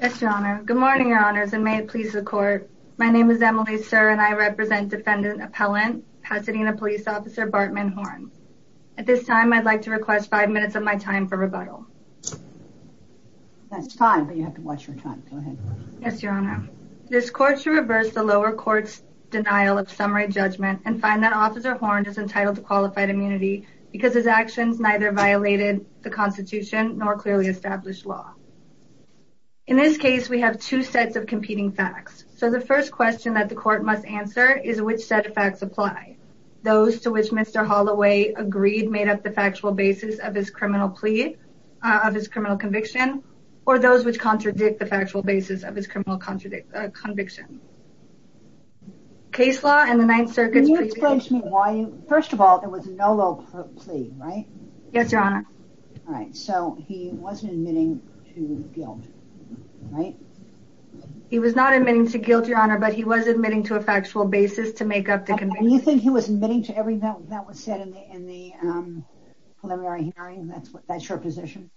Good morning, Your Honors, and may it please the Court. My name is Emily Sir and I represent Defendant Appellant Pasadena Police Officer Bartman Horn. At this time, I would like to request five minutes of my time for rebuttal. This Court shall reverse the lower court's denial of summary judgment and find that Officer Horn is entitled to qualified immunity because his actions neither violated the Constitution nor clearly established law. In this case, we have two sets of competing facts. So, the first question that the Court must answer is which set of facts apply. Those to which Mr. Holloway agreed made up the factual basis of his criminal plea, of his criminal conviction, or those which contradict the factual basis of his criminal conviction. Case law and the Ninth Circuit's previous... Yes, Your Honor. All right. So, he wasn't admitting to guilt, right? He was not admitting to guilt, Your Honor, but he was admitting to a factual basis to make up the conviction. Do you think he was admitting to everything that was said in the preliminary hearing? That's your position?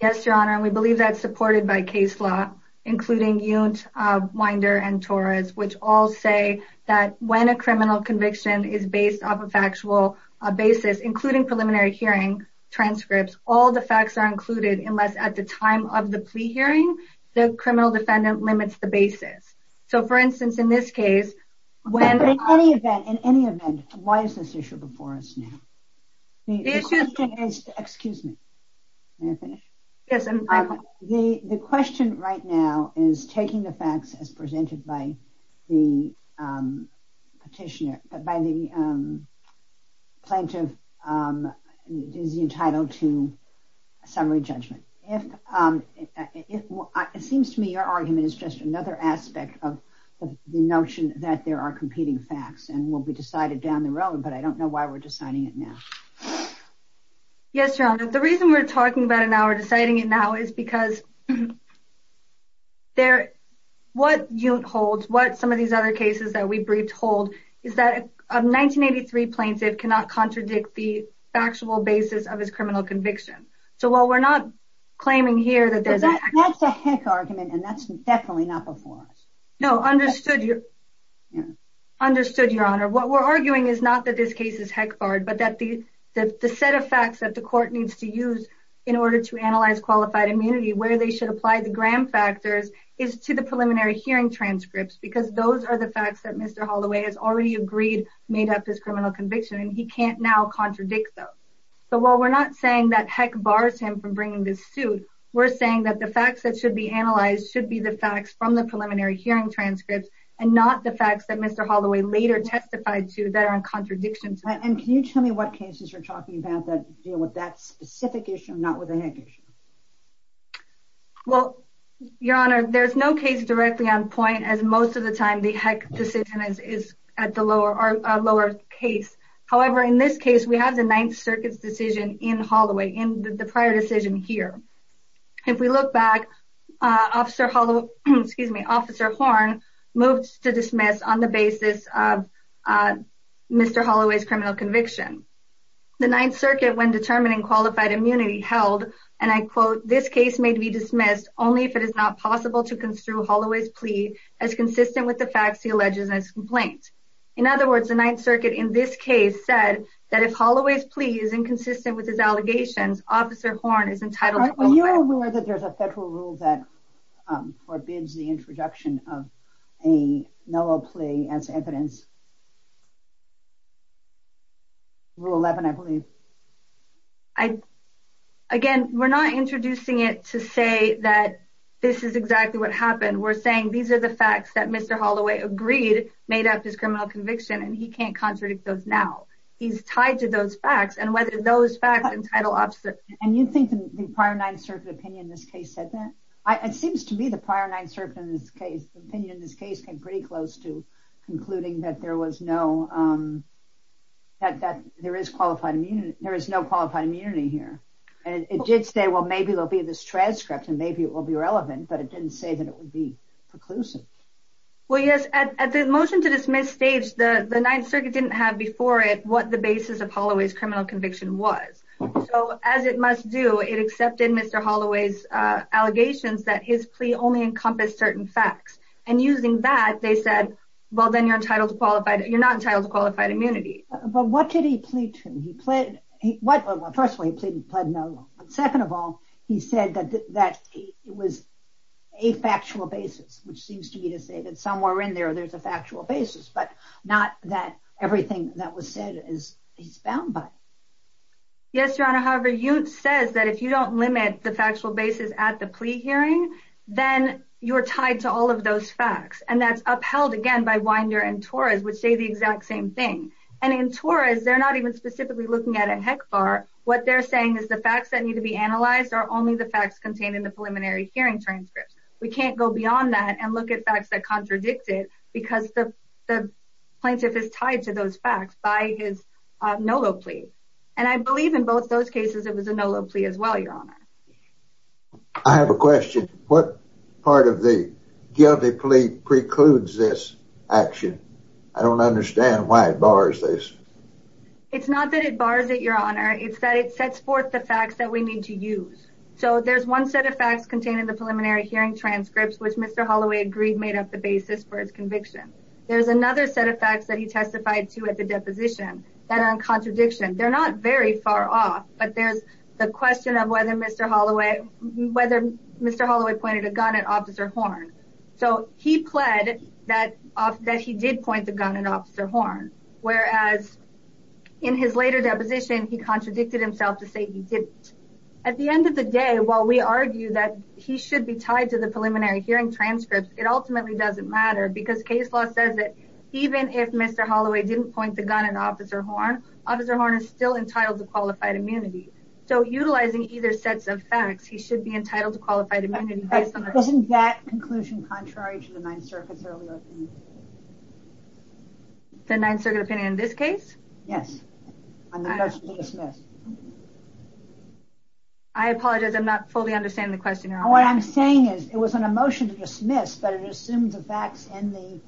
Yes, Your Honor, and we believe that's supported by case law, including Yount, Winder, and Torres, which all say that when a criminal conviction is based off a factual basis, including preliminary hearing transcripts, all the facts are included unless at the time of the plea hearing, the criminal defendant limits the basis. So, for instance, in this case... In any event, why is this issue before us now? The issue is... Excuse me. May I finish? Yes. The question right now is taking the facts as presented by the petitioner, by the plaintiff is entitled to summary judgment. It seems to me your argument is just another aspect of the notion that there are competing facts and will be decided down the road, but I don't know why we're deciding it now. Yes, Your Honor. The reason we're talking about it now or deciding it now is because what Yount holds, what some of these other cases that we briefed hold, is that a 1983 plaintiff cannot contradict the factual basis of his criminal conviction. So, while we're not claiming here that there's... That's a heck argument and that's definitely not before us. No, understood, Your Honor. What we're arguing is not that this case is heck barred, but that the set of facts that the court needs to use in order to analyze qualified immunity, where they should apply the gram factors, is to the preliminary hearing transcripts because those are the facts that Mr. Holloway has already agreed made up his criminal conviction and he can't now contradict them. So, while we're not saying that heck bars him from bringing this suit, we're saying that the facts that should be analyzed should be the facts from the preliminary hearing transcripts and not the facts that Mr. Holloway later testified to that are in contradiction to... And can you tell me what cases you're talking about that deal with that specific issue, not with the heck issue? Well, Your Honor, there's no case directly on point as most of the time the heck decision is at the lower case. However, in this case, we have the Ninth Circuit's decision in Holloway, in the prior decision here. If we look back, Officer Holloway... Excuse me, Officer Horn moved to dismiss on the basis of Mr. Holloway's criminal conviction. The Ninth Circuit, when made to be dismissed only if it is not possible to construe Holloway's plea as consistent with the facts he alleges in his complaint. In other words, the Ninth Circuit, in this case, said that if Holloway's plea is inconsistent with his allegations, Officer Horn is entitled to... Are you aware that there's a federal rule that forbids the introduction of a no-law plea as evidence? Rule 11, I believe. Again, we're not introducing it to say that this is exactly what happened. We're saying these are the facts that Mr. Holloway agreed made up his criminal conviction, and he can't contradict those now. He's tied to those facts, and whether those facts entitle Officer... And you think the prior Ninth Circuit opinion in this case said that? It seems to me the prior Ninth Circuit opinion in this case came pretty close to concluding that there was qualified immunity. There is no qualified immunity here. It did say, well, maybe there'll be this transcript, and maybe it will be relevant, but it didn't say that it would be preclusive. Well, yes. At the motion-to-dismiss stage, the Ninth Circuit didn't have before it what the basis of Holloway's criminal conviction was. So, as it must do, it accepted Mr. Holloway's allegations that his plea only encompassed certain facts. And using that, they said, well, then you're entitled to qualified... You're not entitled to qualified immunity. But what did he plead to? He pleaded... Well, first of all, he pleaded no. Second of all, he said that it was a factual basis, which seems to me to say that somewhere in there, there's a factual basis, but not that everything that was said is bound by it. Yes, Your Honor. However, you said that if you don't limit the factual basis at the plea hearing, then you're tied to all of those facts. And that's upheld, again, by Winder and Torres, which say the exact same thing. And in Torres, they're not even specifically looking at it HECFAR. What they're saying is the facts that need to be analyzed are only the facts contained in the preliminary hearing transcripts. We can't go beyond that and look at facts that contradict it because the plaintiff is tied to those facts by his no low plea. And I believe in both those cases, it was a no low plea as well, Your Honor. I have a question. What part of the guilty plea precludes this action? I don't understand why it bars this. It's not that it bars it, Your Honor. It's that it sets forth the facts that we need to use. So there's one set of facts contained in the preliminary hearing transcripts, which Mr. Holloway agreed made up the basis for his conviction. There's another set of facts that he testified to at the deposition that are in contradiction. They're not very far off, but there's the question of whether Mr. Holloway pointed a gun at Officer Horn. So he pled that he did point the gun at Officer Horn, whereas in his later deposition, he contradicted himself to say he didn't. At the end of the day, while we argue that he should be tied to the preliminary hearing transcripts, it ultimately doesn't matter because case law says that even if Mr. Holloway didn't point the gun at Officer Horn, Officer Horn would have qualified immunity. So utilizing either sets of facts, he should be entitled to qualified immunity. Isn't that conclusion contrary to the Ninth Circuit's earlier opinion? The Ninth Circuit opinion in this case? Yes, on the motion to dismiss. I apologize, I'm not fully understanding the question, Your Honor. What I'm saying is it was on a motion to dismiss, but it assumed the facts in the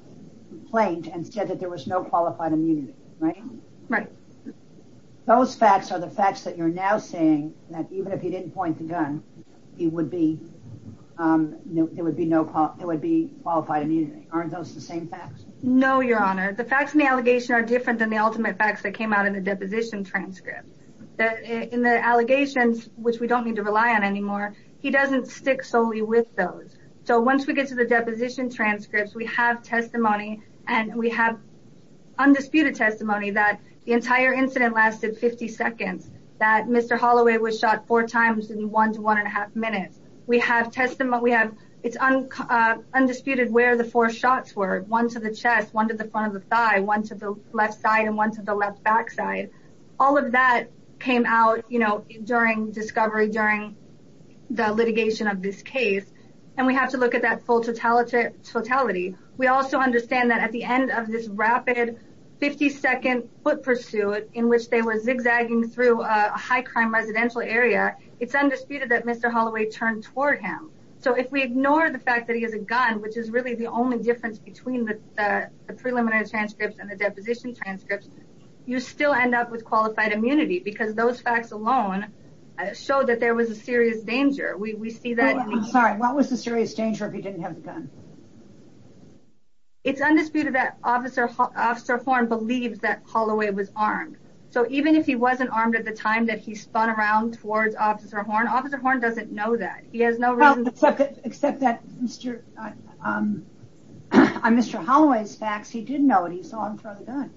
complaint and said that there was no qualified immunity, right? Right. Those facts are the facts that you're now saying that even if he didn't point the gun, there would be qualified immunity. Aren't those the same facts? No, Your Honor. The facts in the allegation are different than the ultimate facts that came out in the deposition transcript. In the allegations, which we don't need to rely on anymore, he doesn't stick solely with those. So once we get to the deposition transcripts, we have undisputed testimony that the entire incident lasted 50 seconds, that Mr. Holloway was shot four times in one to one and a half minutes. We have testimony, we have, it's undisputed where the four shots were, one to the chest, one to the front of the thigh, one to the left side and one to the left backside. All of that came out, you know, during discovery, during the litigation of this case. And we have to look at that full totality. We also understand that at the end of this rapid 50 second foot pursuit in which they were zigzagging through a high crime residential area, it's undisputed that Mr. Holloway turned toward him. So if we ignore the fact that he has a gun, which is really the only difference between the preliminary transcripts and the deposition transcripts, you still end up with qualified immunity because those facts alone show that there was a serious danger. We see that. I'm sorry. What was the serious danger if he didn't have the gun? It's undisputed that Officer Horn believes that Holloway was armed. So even if he wasn't armed at the time that he spun around towards Officer Horn, Officer Horn doesn't know that. He has no reason to. Except that on Mr. Holloway's facts, he did know that he saw him throw the gun.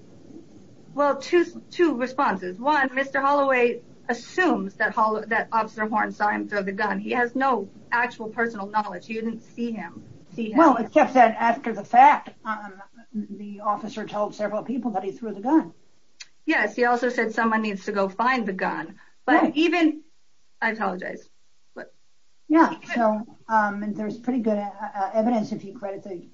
Well, two responses. One, Mr. Holloway assumes that Officer Horn saw him throw the gun. He has no actual personal knowledge. He didn't see him. Well, except that after the fact, the officer told several people that he threw the gun. Yes. He also said someone needs to go find the gun. But even, I apologize. Yeah. So there's pretty good evidence if you credit the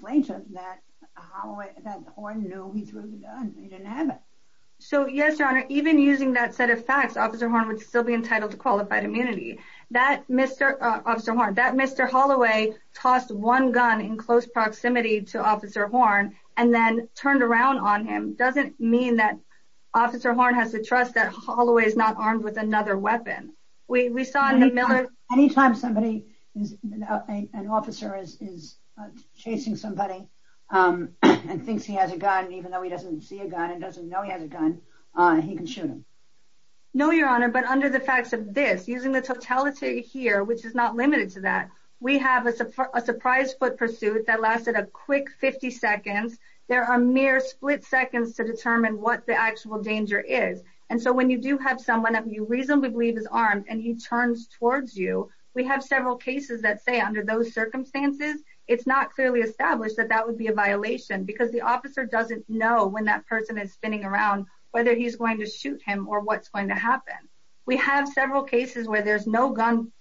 plaintiff that Holloway, that Horn knew he threw the gun. He didn't have it. So yes, using that set of facts, Officer Horn would still be entitled to qualified immunity. That Mr. Holloway tossed one gun in close proximity to Officer Horn and then turned around on him, doesn't mean that Officer Horn has to trust that Holloway is not armed with another weapon. We saw in the Miller... Anytime somebody, an officer is chasing somebody and thinks he has a gun, even though he doesn't see a gun and doesn't know he has a gun, he can shoot him. No, Your Honor. But under the facts of this, using the totality here, which is not limited to that, we have a surprise foot pursuit that lasted a quick 50 seconds. There are mere split seconds to determine what the actual danger is. And so when you do have someone that you reasonably believe is armed and he turns towards you, we have several cases that say under those circumstances, it's not clearly established that that would be a violation because the officer doesn't know when that person is spinning around, whether he's going to shoot him or what's going to happen. We have several cases where there's no gun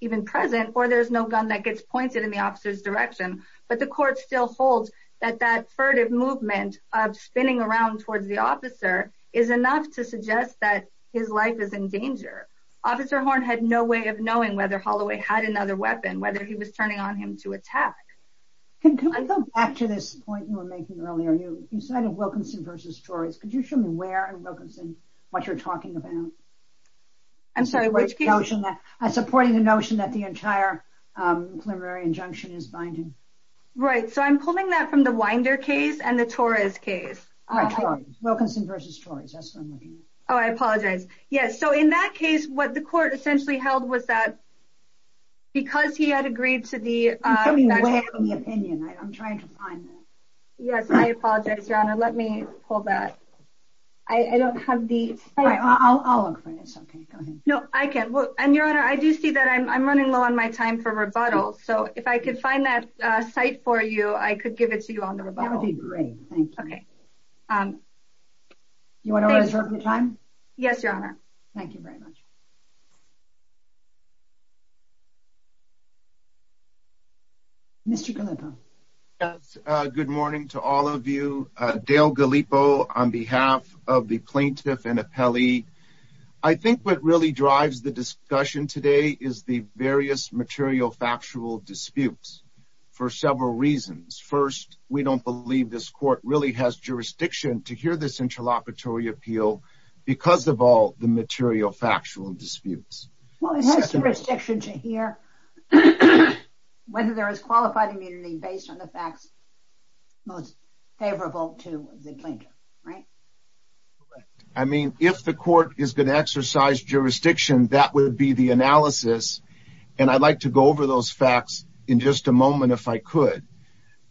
even present or there's no gun that gets pointed in the officer's direction, but the court still holds that that furtive movement of spinning around towards the officer is enough to suggest that his life is in danger. Officer Horn had no way of knowing whether Holloway had another weapon, whether he was turning on him to attack. Can we go back to this point you were making earlier? You cited Wilkinson v. Torres. Could you show me where in Wilkinson what you're talking about? I'm supporting the notion that the entire preliminary injunction is binding. Right. So I'm pulling that from the Winder case and the Torres case. Wilkinson v. Torres. Oh, I apologize. Yes. So in that case, what the court essentially held was that because he had agreed to the- I'm coming away from the opinion. I'm trying to find it. Yes, I apologize, Your Honor. Let me hold that. I don't have the- I'll look for this. Okay, go ahead. No, I can't. And Your Honor, I do see that I'm running low on my time for rebuttal. So if I could find that site for you, I could give it to you on the rebuttal. That would be great. Thank you. Okay. You want to reserve your time? Yes, Your Honor. Thank you very much. Mr. Gallipo. Yes, good morning to all of you. Dale Gallipo on behalf of the plaintiff and appellee. I think what really drives the discussion today is the various material factual disputes for several reasons. First, we don't believe this court really has jurisdiction to hear this interlocutory appeal because of all the material factual disputes. Well, it has jurisdiction to hear whether there is qualified immunity based on the facts most favorable to the plaintiff, right? Correct. I mean, if the court is going to exercise jurisdiction, that would be the analysis. And I'd like to go over those facts in just a moment if I could.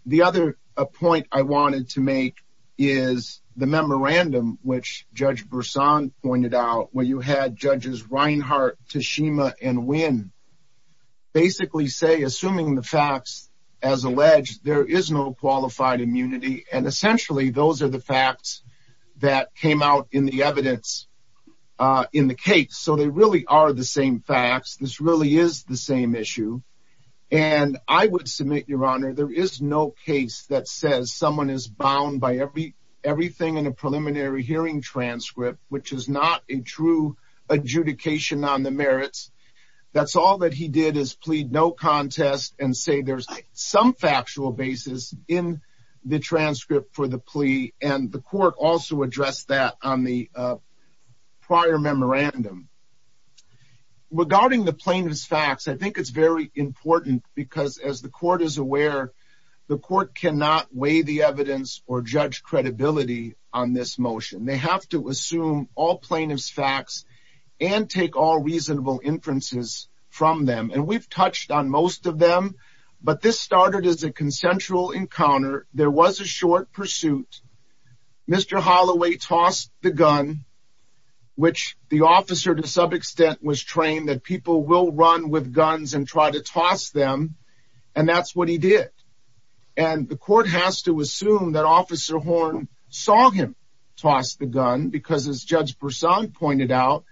The other point I wanted to make is the memorandum, which Judge Bersan pointed out, where you had judges Reinhart, Tashima, and Winn basically say, assuming the facts as alleged, there is no qualified immunity. And essentially, those are the facts that came out in the evidence in the case. So they really are the same facts. This really is the same issue. And I would submit, Your Honor, there is no case that says someone is bound by everything in a preliminary hearing transcript, which is not a true adjudication on the merits. That's all that he did is plead no contest and say there's some factual basis in the transcript for the plea. And the court also addressed that on the prior memorandum. Regarding the plaintiff's facts, I think it's very important because, as the court is aware, the court cannot weigh the evidence or judge credibility on this motion. They have to assume all plaintiff's facts and take all reasonable inferences from them. And we've touched on most of them, but this started as a consensual encounter. There was a short pursuit. Mr. Holloway tossed the gun, which the officer, to some extent, was trained that people will run with guns and try to toss them, and that's what he did. And the court has to assume that Officer Horn saw him toss the gun because, as Judge Persaud pointed out,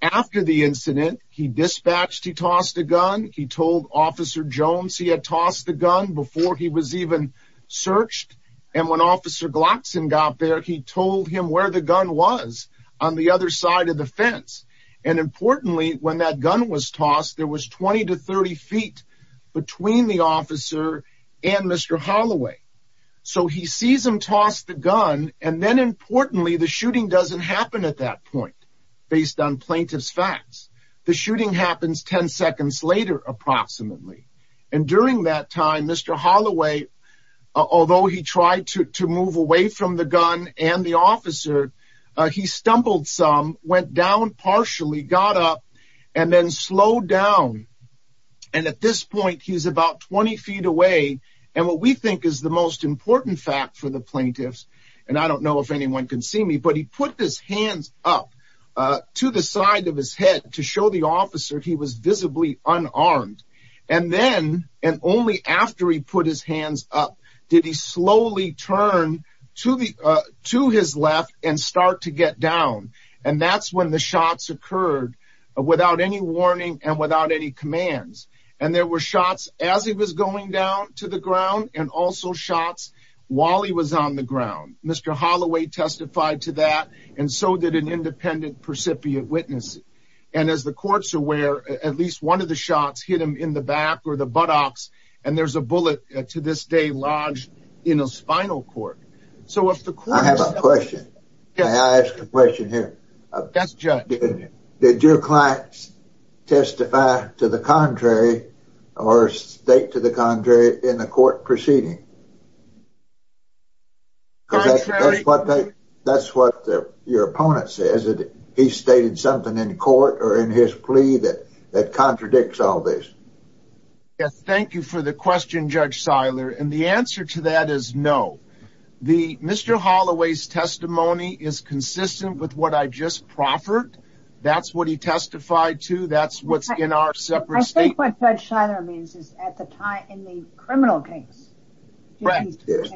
after the incident, he dispatched, he tossed the gun, he told Officer Jones he had tossed the gun before he was even searched. And when Officer Glockson got there, he told him where the gun was, on the other side of the fence. And, importantly, when that gun was tossed, there was 20 to 30 feet between the officer and Mr. Holloway. So he sees him toss the gun, and then, importantly, the shooting doesn't happen at that point, based on plaintiff's facts. The shooting happens 10 seconds later, approximately. And during that time, Mr. Holloway, although he tried to move away from the gun and the officer, he stumbled some, went down partially, got up, and then slowed down. And at this point, he's about 20 feet away, and what we think is the most important fact for the plaintiffs, and I don't know if anyone can see me, but he put his hands up to the side of his head to show the officer he was visibly unarmed. And then, and only after he put his hands up, did he slowly turn to his left and start to get down. And that's when the shots occurred, without any warning and without any commands. And there were shots as he was going down to the ground, and also shots while he was on the ground. Mr. Holloway testified to that, and so did an independent percipient witness. And as the courts are aware, at least one of the shots hit him in the back or the buttocks, and there's a bullet to this day lodged in a spinal cord. I have a question. May I ask a question here? Yes, Judge. Did your client testify to the contrary or state to the contrary in the court proceeding? Contrary. That's what your opponent says, that he stated something in court or in his plea that contradicts all this. Yes, thank you for the question, Judge Seiler. And the answer to that is no. Mr. Holloway's testimony is consistent with what I just proffered. That's what he testified to. That's what's in our separate statements. I think what Judge Seiler means is at the time in the criminal case. Right. That's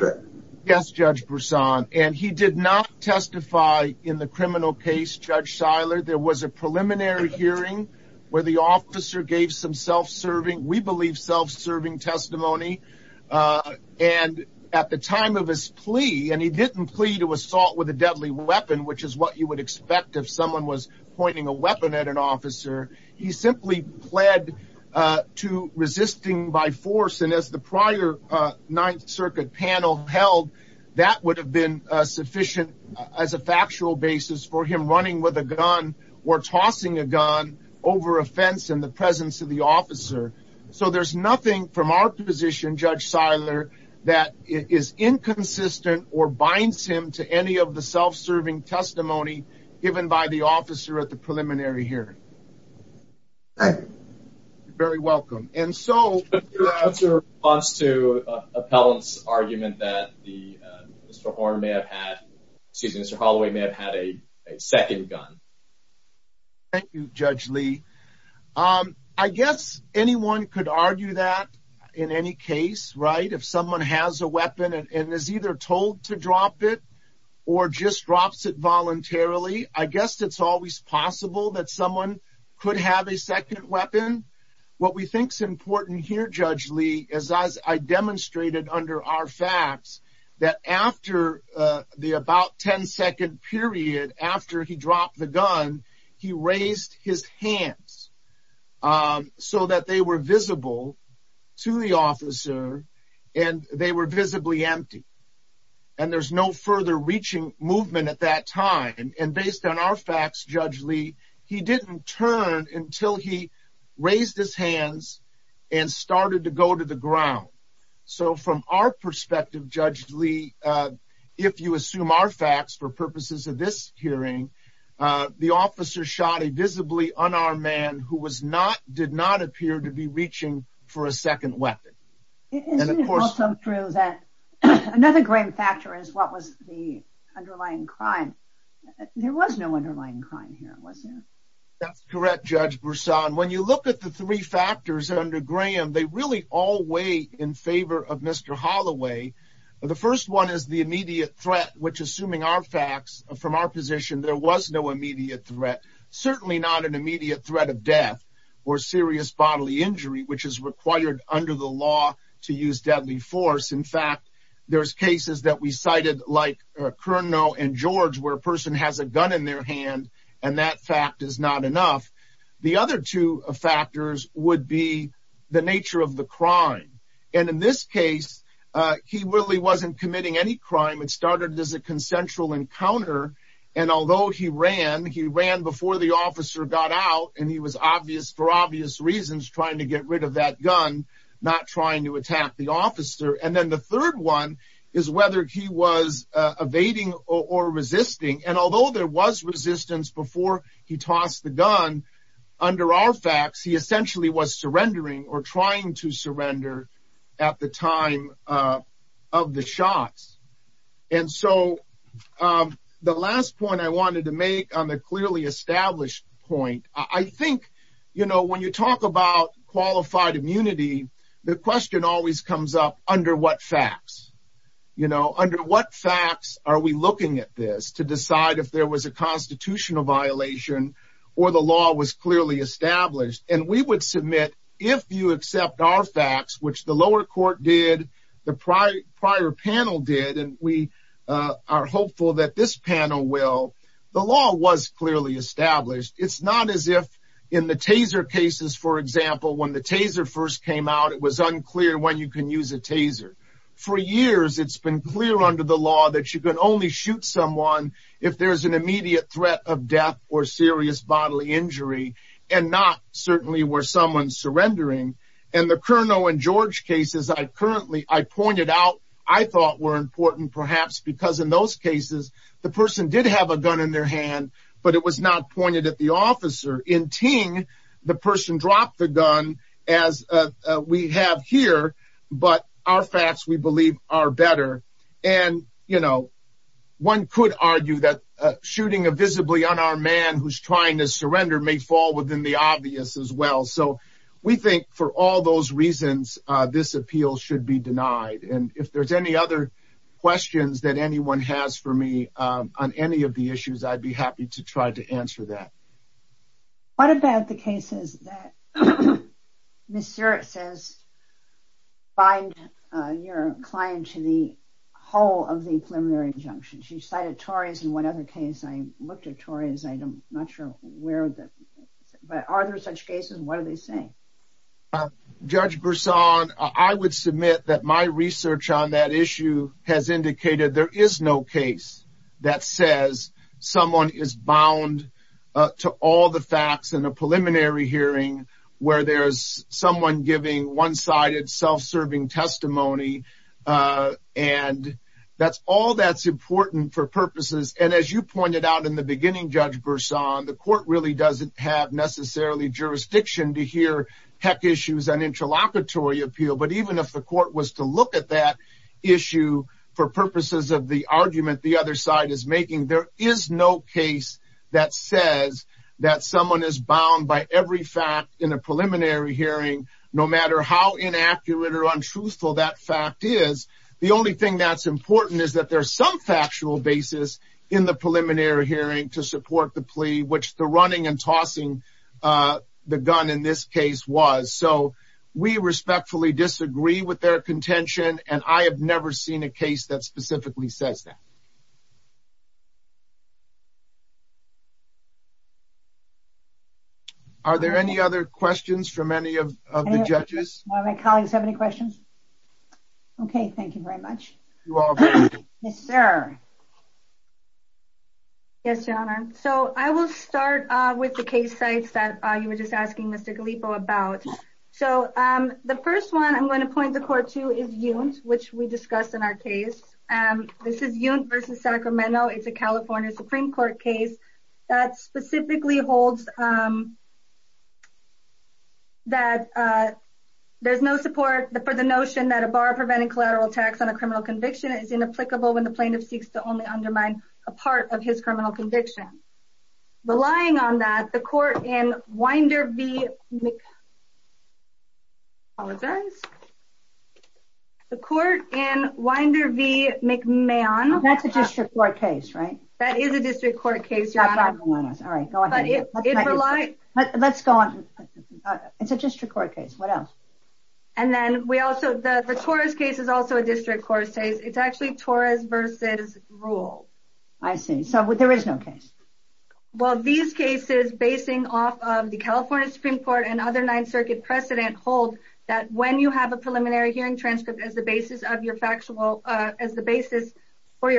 right. Yes, Judge Brisson. And he did not testify in the criminal case, Judge Seiler. There was a preliminary hearing where the officer gave some self-serving, we believe self-serving testimony. And at the time of his plea, and he didn't plea to assault with a deadly weapon, which is what you would expect if someone was pointing a weapon at an officer. He simply pled to resisting by force. And as the prior Ninth Circuit panel held, that would have been sufficient as a factual basis for him running with a gun or tossing a gun over a fence in the presence of the officer. So there's nothing from our position, Judge Seiler, that is inconsistent or binds him to any of the self-serving testimony given by the officer at the preliminary hearing. Thank you. You're very welcome. And so. What's your response to Appellant's argument that Mr. Horn may have had, excuse me, Mr. Holloway may have had a second gun? Thank you, Judge Lee. I guess anyone could argue that in any case, right? If someone has a weapon and is either told to drop it or just drops it voluntarily, I guess it's always possible that someone could have a second weapon. What we think is important here, Judge Lee, as I demonstrated under our facts, that after the about 10 second period after he dropped the gun, he raised his hands so that they were visible to the officer and they were visibly empty. And there's no further reaching movement at that time. And based on our facts, Judge Lee, he didn't turn until he raised his hands and started to go to the ground. So from our perspective, Judge Lee, if you assume our facts for purposes of this hearing, the officer shot a visibly unarmed man who did not appear to be reaching for a second weapon. Isn't it also true that another Graham factor is what was the underlying crime? There was no underlying crime here, wasn't there? That's correct, Judge Broussard. When you look at the three factors under Graham, they really all weigh in favor of Mr. Holloway. The first one is the immediate threat, which, assuming our facts from our position, there was no immediate threat, certainly not an immediate threat of death or serious bodily injury, which is required under the law to use deadly force. In fact, there's cases that we cited like Cournot and George, where a person has a gun in their hand and that fact is not enough. The other two factors would be the nature of the crime. And in this case, he really wasn't committing any crime. It started as a consensual encounter. And although he ran, he ran before the officer got out and he was obvious for obvious reasons trying to get rid of that gun, not trying to attack the officer. And then the third one is whether he was evading or resisting. And although there was resistance before he tossed the gun under our facts, he essentially was surrendering or trying to surrender at the time of the shots. And so the last point I wanted to make on the clearly established point, I think, you know, when you talk about qualified immunity, the question always comes up under what facts, you know, under what facts are we looking at this to decide if there was a constitutional violation or the law was clearly established. And we would submit if you accept our facts, which the lower court did, the prior panel did, and we are hopeful that this panel will. The law was clearly established. It's not as if in the taser cases, for example, when the taser first came out, it was unclear when you can use a taser. For years, it's been clear under the law that you can only shoot someone if there is an immediate threat of death or serious bodily injury and not certainly where someone's surrendering. And the Colonel and George cases I currently I pointed out, I thought were important, perhaps because in those cases, the person did have a gun in their hand, but it was not pointed at the officer in Ting. The person dropped the gun as we have here. But our facts, we believe, are better. And, you know, one could argue that shooting a visibly on our man who's trying to surrender may fall within the obvious as well. So we think for all those reasons, this appeal should be denied. And if there's any other questions that anyone has for me on any of the issues, I'd be happy to try to answer that. Are there any cases that Mr. It says, find your client to the whole of the preliminary injunction. She cited Tories in one other case. I looked at Tories. I'm not sure where. But are there such cases? What are they saying? Judge Bersan, I would submit that my research on that issue has indicated there is no case that says someone is bound to all the facts in a preliminary hearing where there's someone giving one sided self-serving testimony. And that's all that's important for purposes. And as you pointed out in the beginning, Judge Bersan, the court really doesn't have necessarily jurisdiction to hear heck issues on interlocutory appeal. But even if the court was to look at that issue for purposes of the argument, the other side is making, there is no case that says that someone is bound by every fact in a preliminary hearing, no matter how inaccurate or untruthful that fact is. The only thing that's important is that there's some factual basis in the preliminary hearing to support the plea, which the running and tossing the gun in this case was. So we respectfully disagree with their contention. And I have never seen a case that specifically says that. Are there any other questions from any of the judges? My colleagues have any questions? Okay, thank you very much. Yes, Your Honor. So I will start with the case sites that you were just asking Mr. Galipo about. So the first one I'm going to point the court to is Yount, which we discussed in our case. This is Yount v. Sacramento. It's a California Supreme Court case that specifically holds that there's no support for the notion that a bar preventing collateral tax on a criminal conviction is inapplicable when the plaintiff seeks to only undermine a part of his criminal conviction. Relying on that, the court in Winder v. McMahon. That's a district court case, right? That is a district court case, Your Honor. Let's go on. It's a district court case. What else? The Torres case is also a district court case. It's actually Torres v. Rule. I see. So there is no case. Well, these cases basing off of the California Supreme Court and other Ninth Circuit precedent hold that when you have a preliminary hearing transcript as the basis for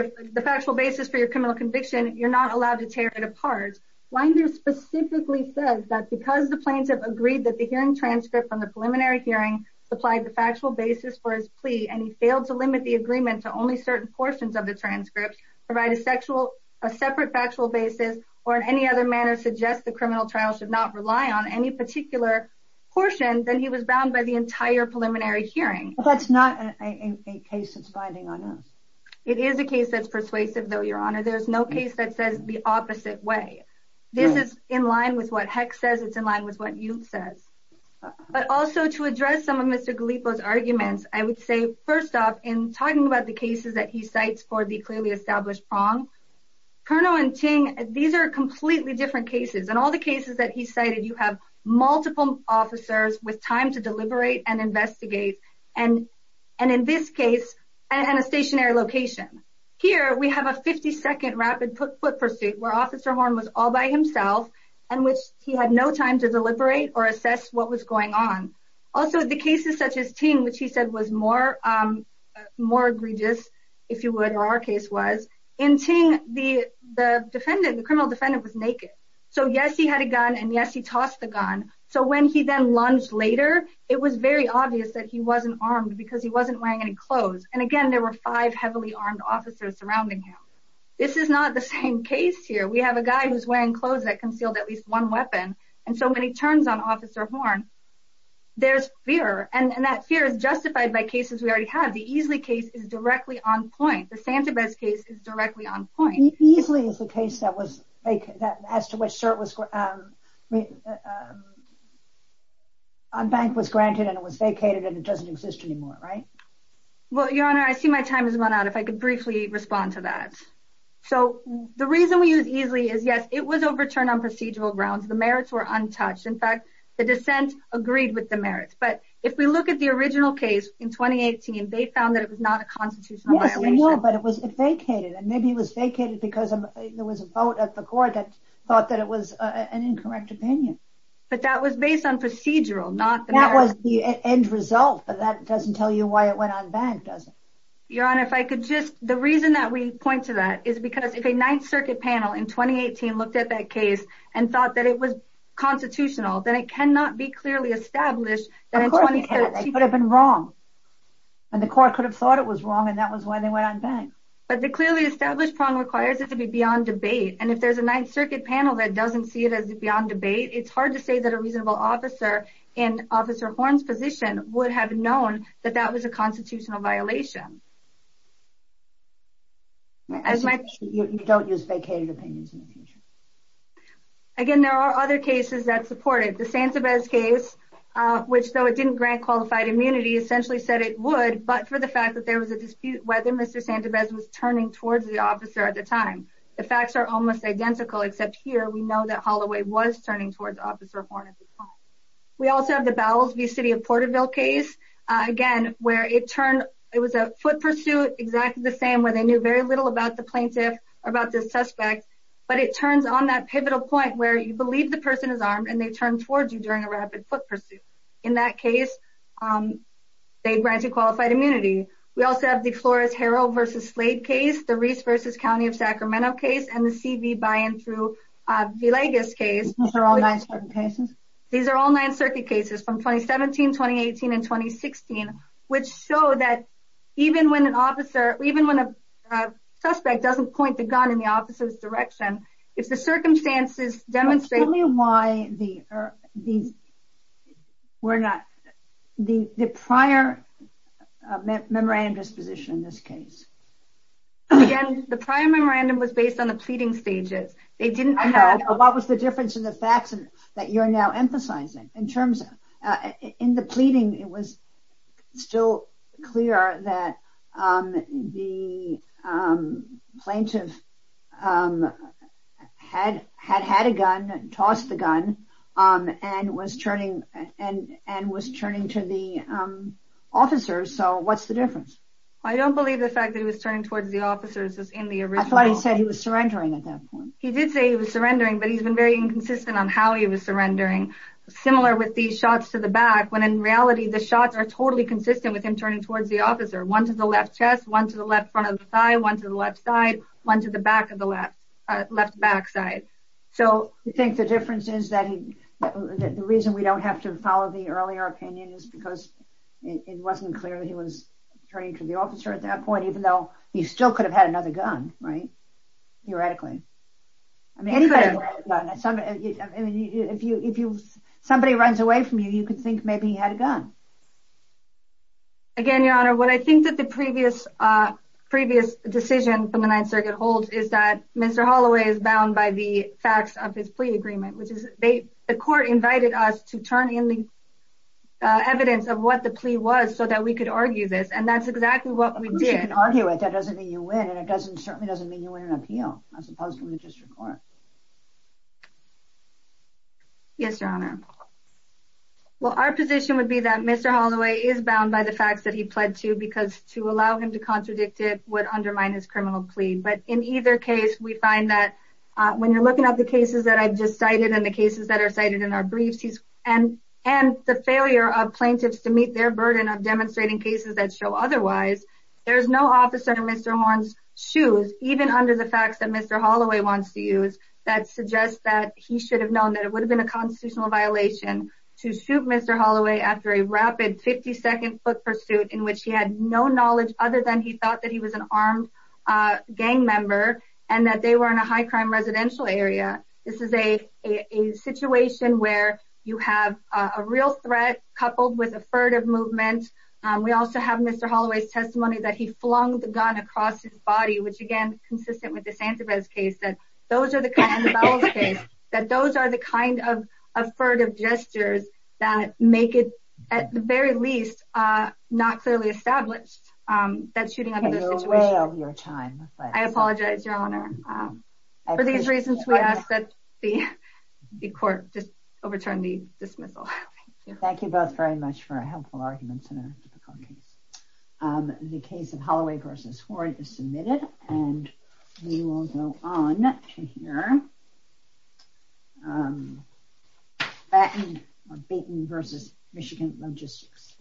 your criminal conviction, you're not allowed to tear it apart. Winder specifically says that because the plaintiff agreed that the hearing transcript from the preliminary hearing supplied the factual basis for his plea, and he failed to limit the agreement to only certain portions of the transcript, provide a separate factual basis, or in any other manner suggest the criminal trial should not rely on any particular portion, then he was bound by the entire preliminary hearing. That's not a case that's binding on us. It is a case that's persuasive, though, Your Honor. There's no case that says the opposite way. This is in line with what Heck says. It's in line with what Yul says. But also to address some of Mr. Galipo's arguments, I would say, first off, in talking about the cases that he cites for the clearly established wrong, Cerno and Ting, these are completely different cases. In all the cases that he cited, you have multiple officers with time to deliberate and investigate, and in this case, in a stationary location. Here, we have a 50-second rapid foot pursuit where Officer Horn was all by himself and which he had no time to deliberate or assess what was going on. Also, the cases such as Ting, which he said was more egregious, if you would, or our case was, in Ting, the criminal defendant was naked. So yes, he had a gun, and yes, he tossed the gun. So when he then lunged later, it was very obvious that he wasn't armed because he wasn't wearing any clothes. And again, there were five heavily armed officers surrounding him. This is not the same case here. We have a guy who's wearing clothes that concealed at least one weapon, and so when he turns on Officer Horn, there's fear. And that fear is justified by cases we already have. The Easley case is directly on point. The Santa Bez case is directly on point. Easley is the case that as to which CERT on bank was granted and it was vacated and it doesn't exist anymore, right? Well, Your Honor, I see my time has run out. If I could briefly respond to that. So the reason we use Easley is, yes, it was overturned on procedural grounds. The merits were untouched. In fact, the dissent agreed with the merits. But if we look at the original case in 2018, they found that it was not a constitutional violation. Yes, I know, but it was vacated, and maybe it was vacated because there was a vote at the court that thought that it was an incorrect opinion. That was the end result, but that doesn't tell you why it went on bank, does it? Your Honor, if I could just... The reason that we point to that is because if a Ninth Circuit panel in 2018 looked at that case and thought that it was constitutional, then it cannot be clearly established that in 2017... Of course it can. They could have been wrong. And the court could have thought it was wrong, and that was why they went on bank. But the clearly established prong requires it to be beyond debate, and if there's a Ninth Circuit panel that doesn't see it as beyond debate, it's hard to say that a reasonable officer in Officer Horn's position would have known that that was a constitutional violation. You don't use vacated opinions in the future. Again, there are other cases that support it. The Santabez case, which though it didn't grant qualified immunity, essentially said it would, but for the fact that there was a dispute whether Mr. Santabez was turning towards the officer at the time. The facts are almost identical, except here we know that Holloway was turning towards Officer Horn at the time. We also have the Bowles v. City of Porterville case, again, where it turned... It was a foot pursuit, exactly the same, where they knew very little about the plaintiff or about the suspect, but it turns on that pivotal point where you believe the person is armed and they turn towards you during a rapid foot pursuit. In that case, they grant you qualified immunity. We also have the Flores-Harrell v. Slade case, the Reese v. County of Sacramento case, and the C.V. by and through Villegas case. These are all Ninth Circuit cases? These are all Ninth Circuit cases from 2017, 2018, and 2016, which show that even when a suspect doesn't point the gun in the officer's direction, if the circumstances demonstrate... Tell me why the prior memorandum disposition in this case. Again, the prior memorandum was based on the pleading stages. What was the difference in the facts that you're now emphasizing? In the pleading, it was still clear that the plaintiff had had a gun, tossed the gun, and was turning to the officers, so what's the difference? I don't believe the fact that he was turning towards the officers is in the original... I thought he said he was surrendering at that point. He did say he was surrendering, but he's been very inconsistent on how he was surrendering. Similar with these shots to the back, when in reality, the shots are totally consistent with him turning towards the officer. One to the left chest, one to the left front of the thigh, one to the left side, one to the left back side. So you think the difference is that the reason we don't have to follow the earlier opinion is because it wasn't clear that he was turning to the officer at that point, even though he still could have had another gun, right? Theoretically. If somebody runs away from you, you could think maybe he had a gun. Again, Your Honor, what I think that the previous decision from the Ninth Circuit holds is that Mr. Holloway is bound by the facts of his plea agreement. The court invited us to turn in the evidence of what the plea was so that we could argue this, and that's exactly what we did. Of course you can argue it, that doesn't mean you win, and it certainly doesn't mean you win an appeal, as opposed to a magistrate court. Yes, Your Honor. Well, our position would be that Mr. Holloway is bound by the facts that he pled to because to allow him to contradict it would undermine his criminal plea. But in either case, we find that when you're looking at the cases that I just cited and the cases that are cited in our briefs, and the failure of plaintiffs to meet their burden of demonstrating cases that show otherwise, there's no officer in Mr. Horn's shoes, even under the facts that Mr. Holloway wants to use, that suggests that he should have known that it would have been a constitutional violation to shoot Mr. Holloway after a rapid 50-second foot pursuit in which he had no knowledge other than he thought that he was an armed gang member and that they were in a high-crime residential area. This is a situation where you have a real threat coupled with a furtive movement. We also have Mr. Holloway's testimony that he flung the gun across his body, which again, consistent with the Sanchez case, that those are the kind of furtive gestures that make it, at the very least, not clearly established that shooting under this situation... You're way over your time. I apologize, Your Honor. For these reasons, we ask that the court just overturn the dismissal. Thank you both very much for helpful arguments in a difficult case. The case of Holloway v. Horn is submitted, and we will go on to hear Batten v. Michigan Logistics.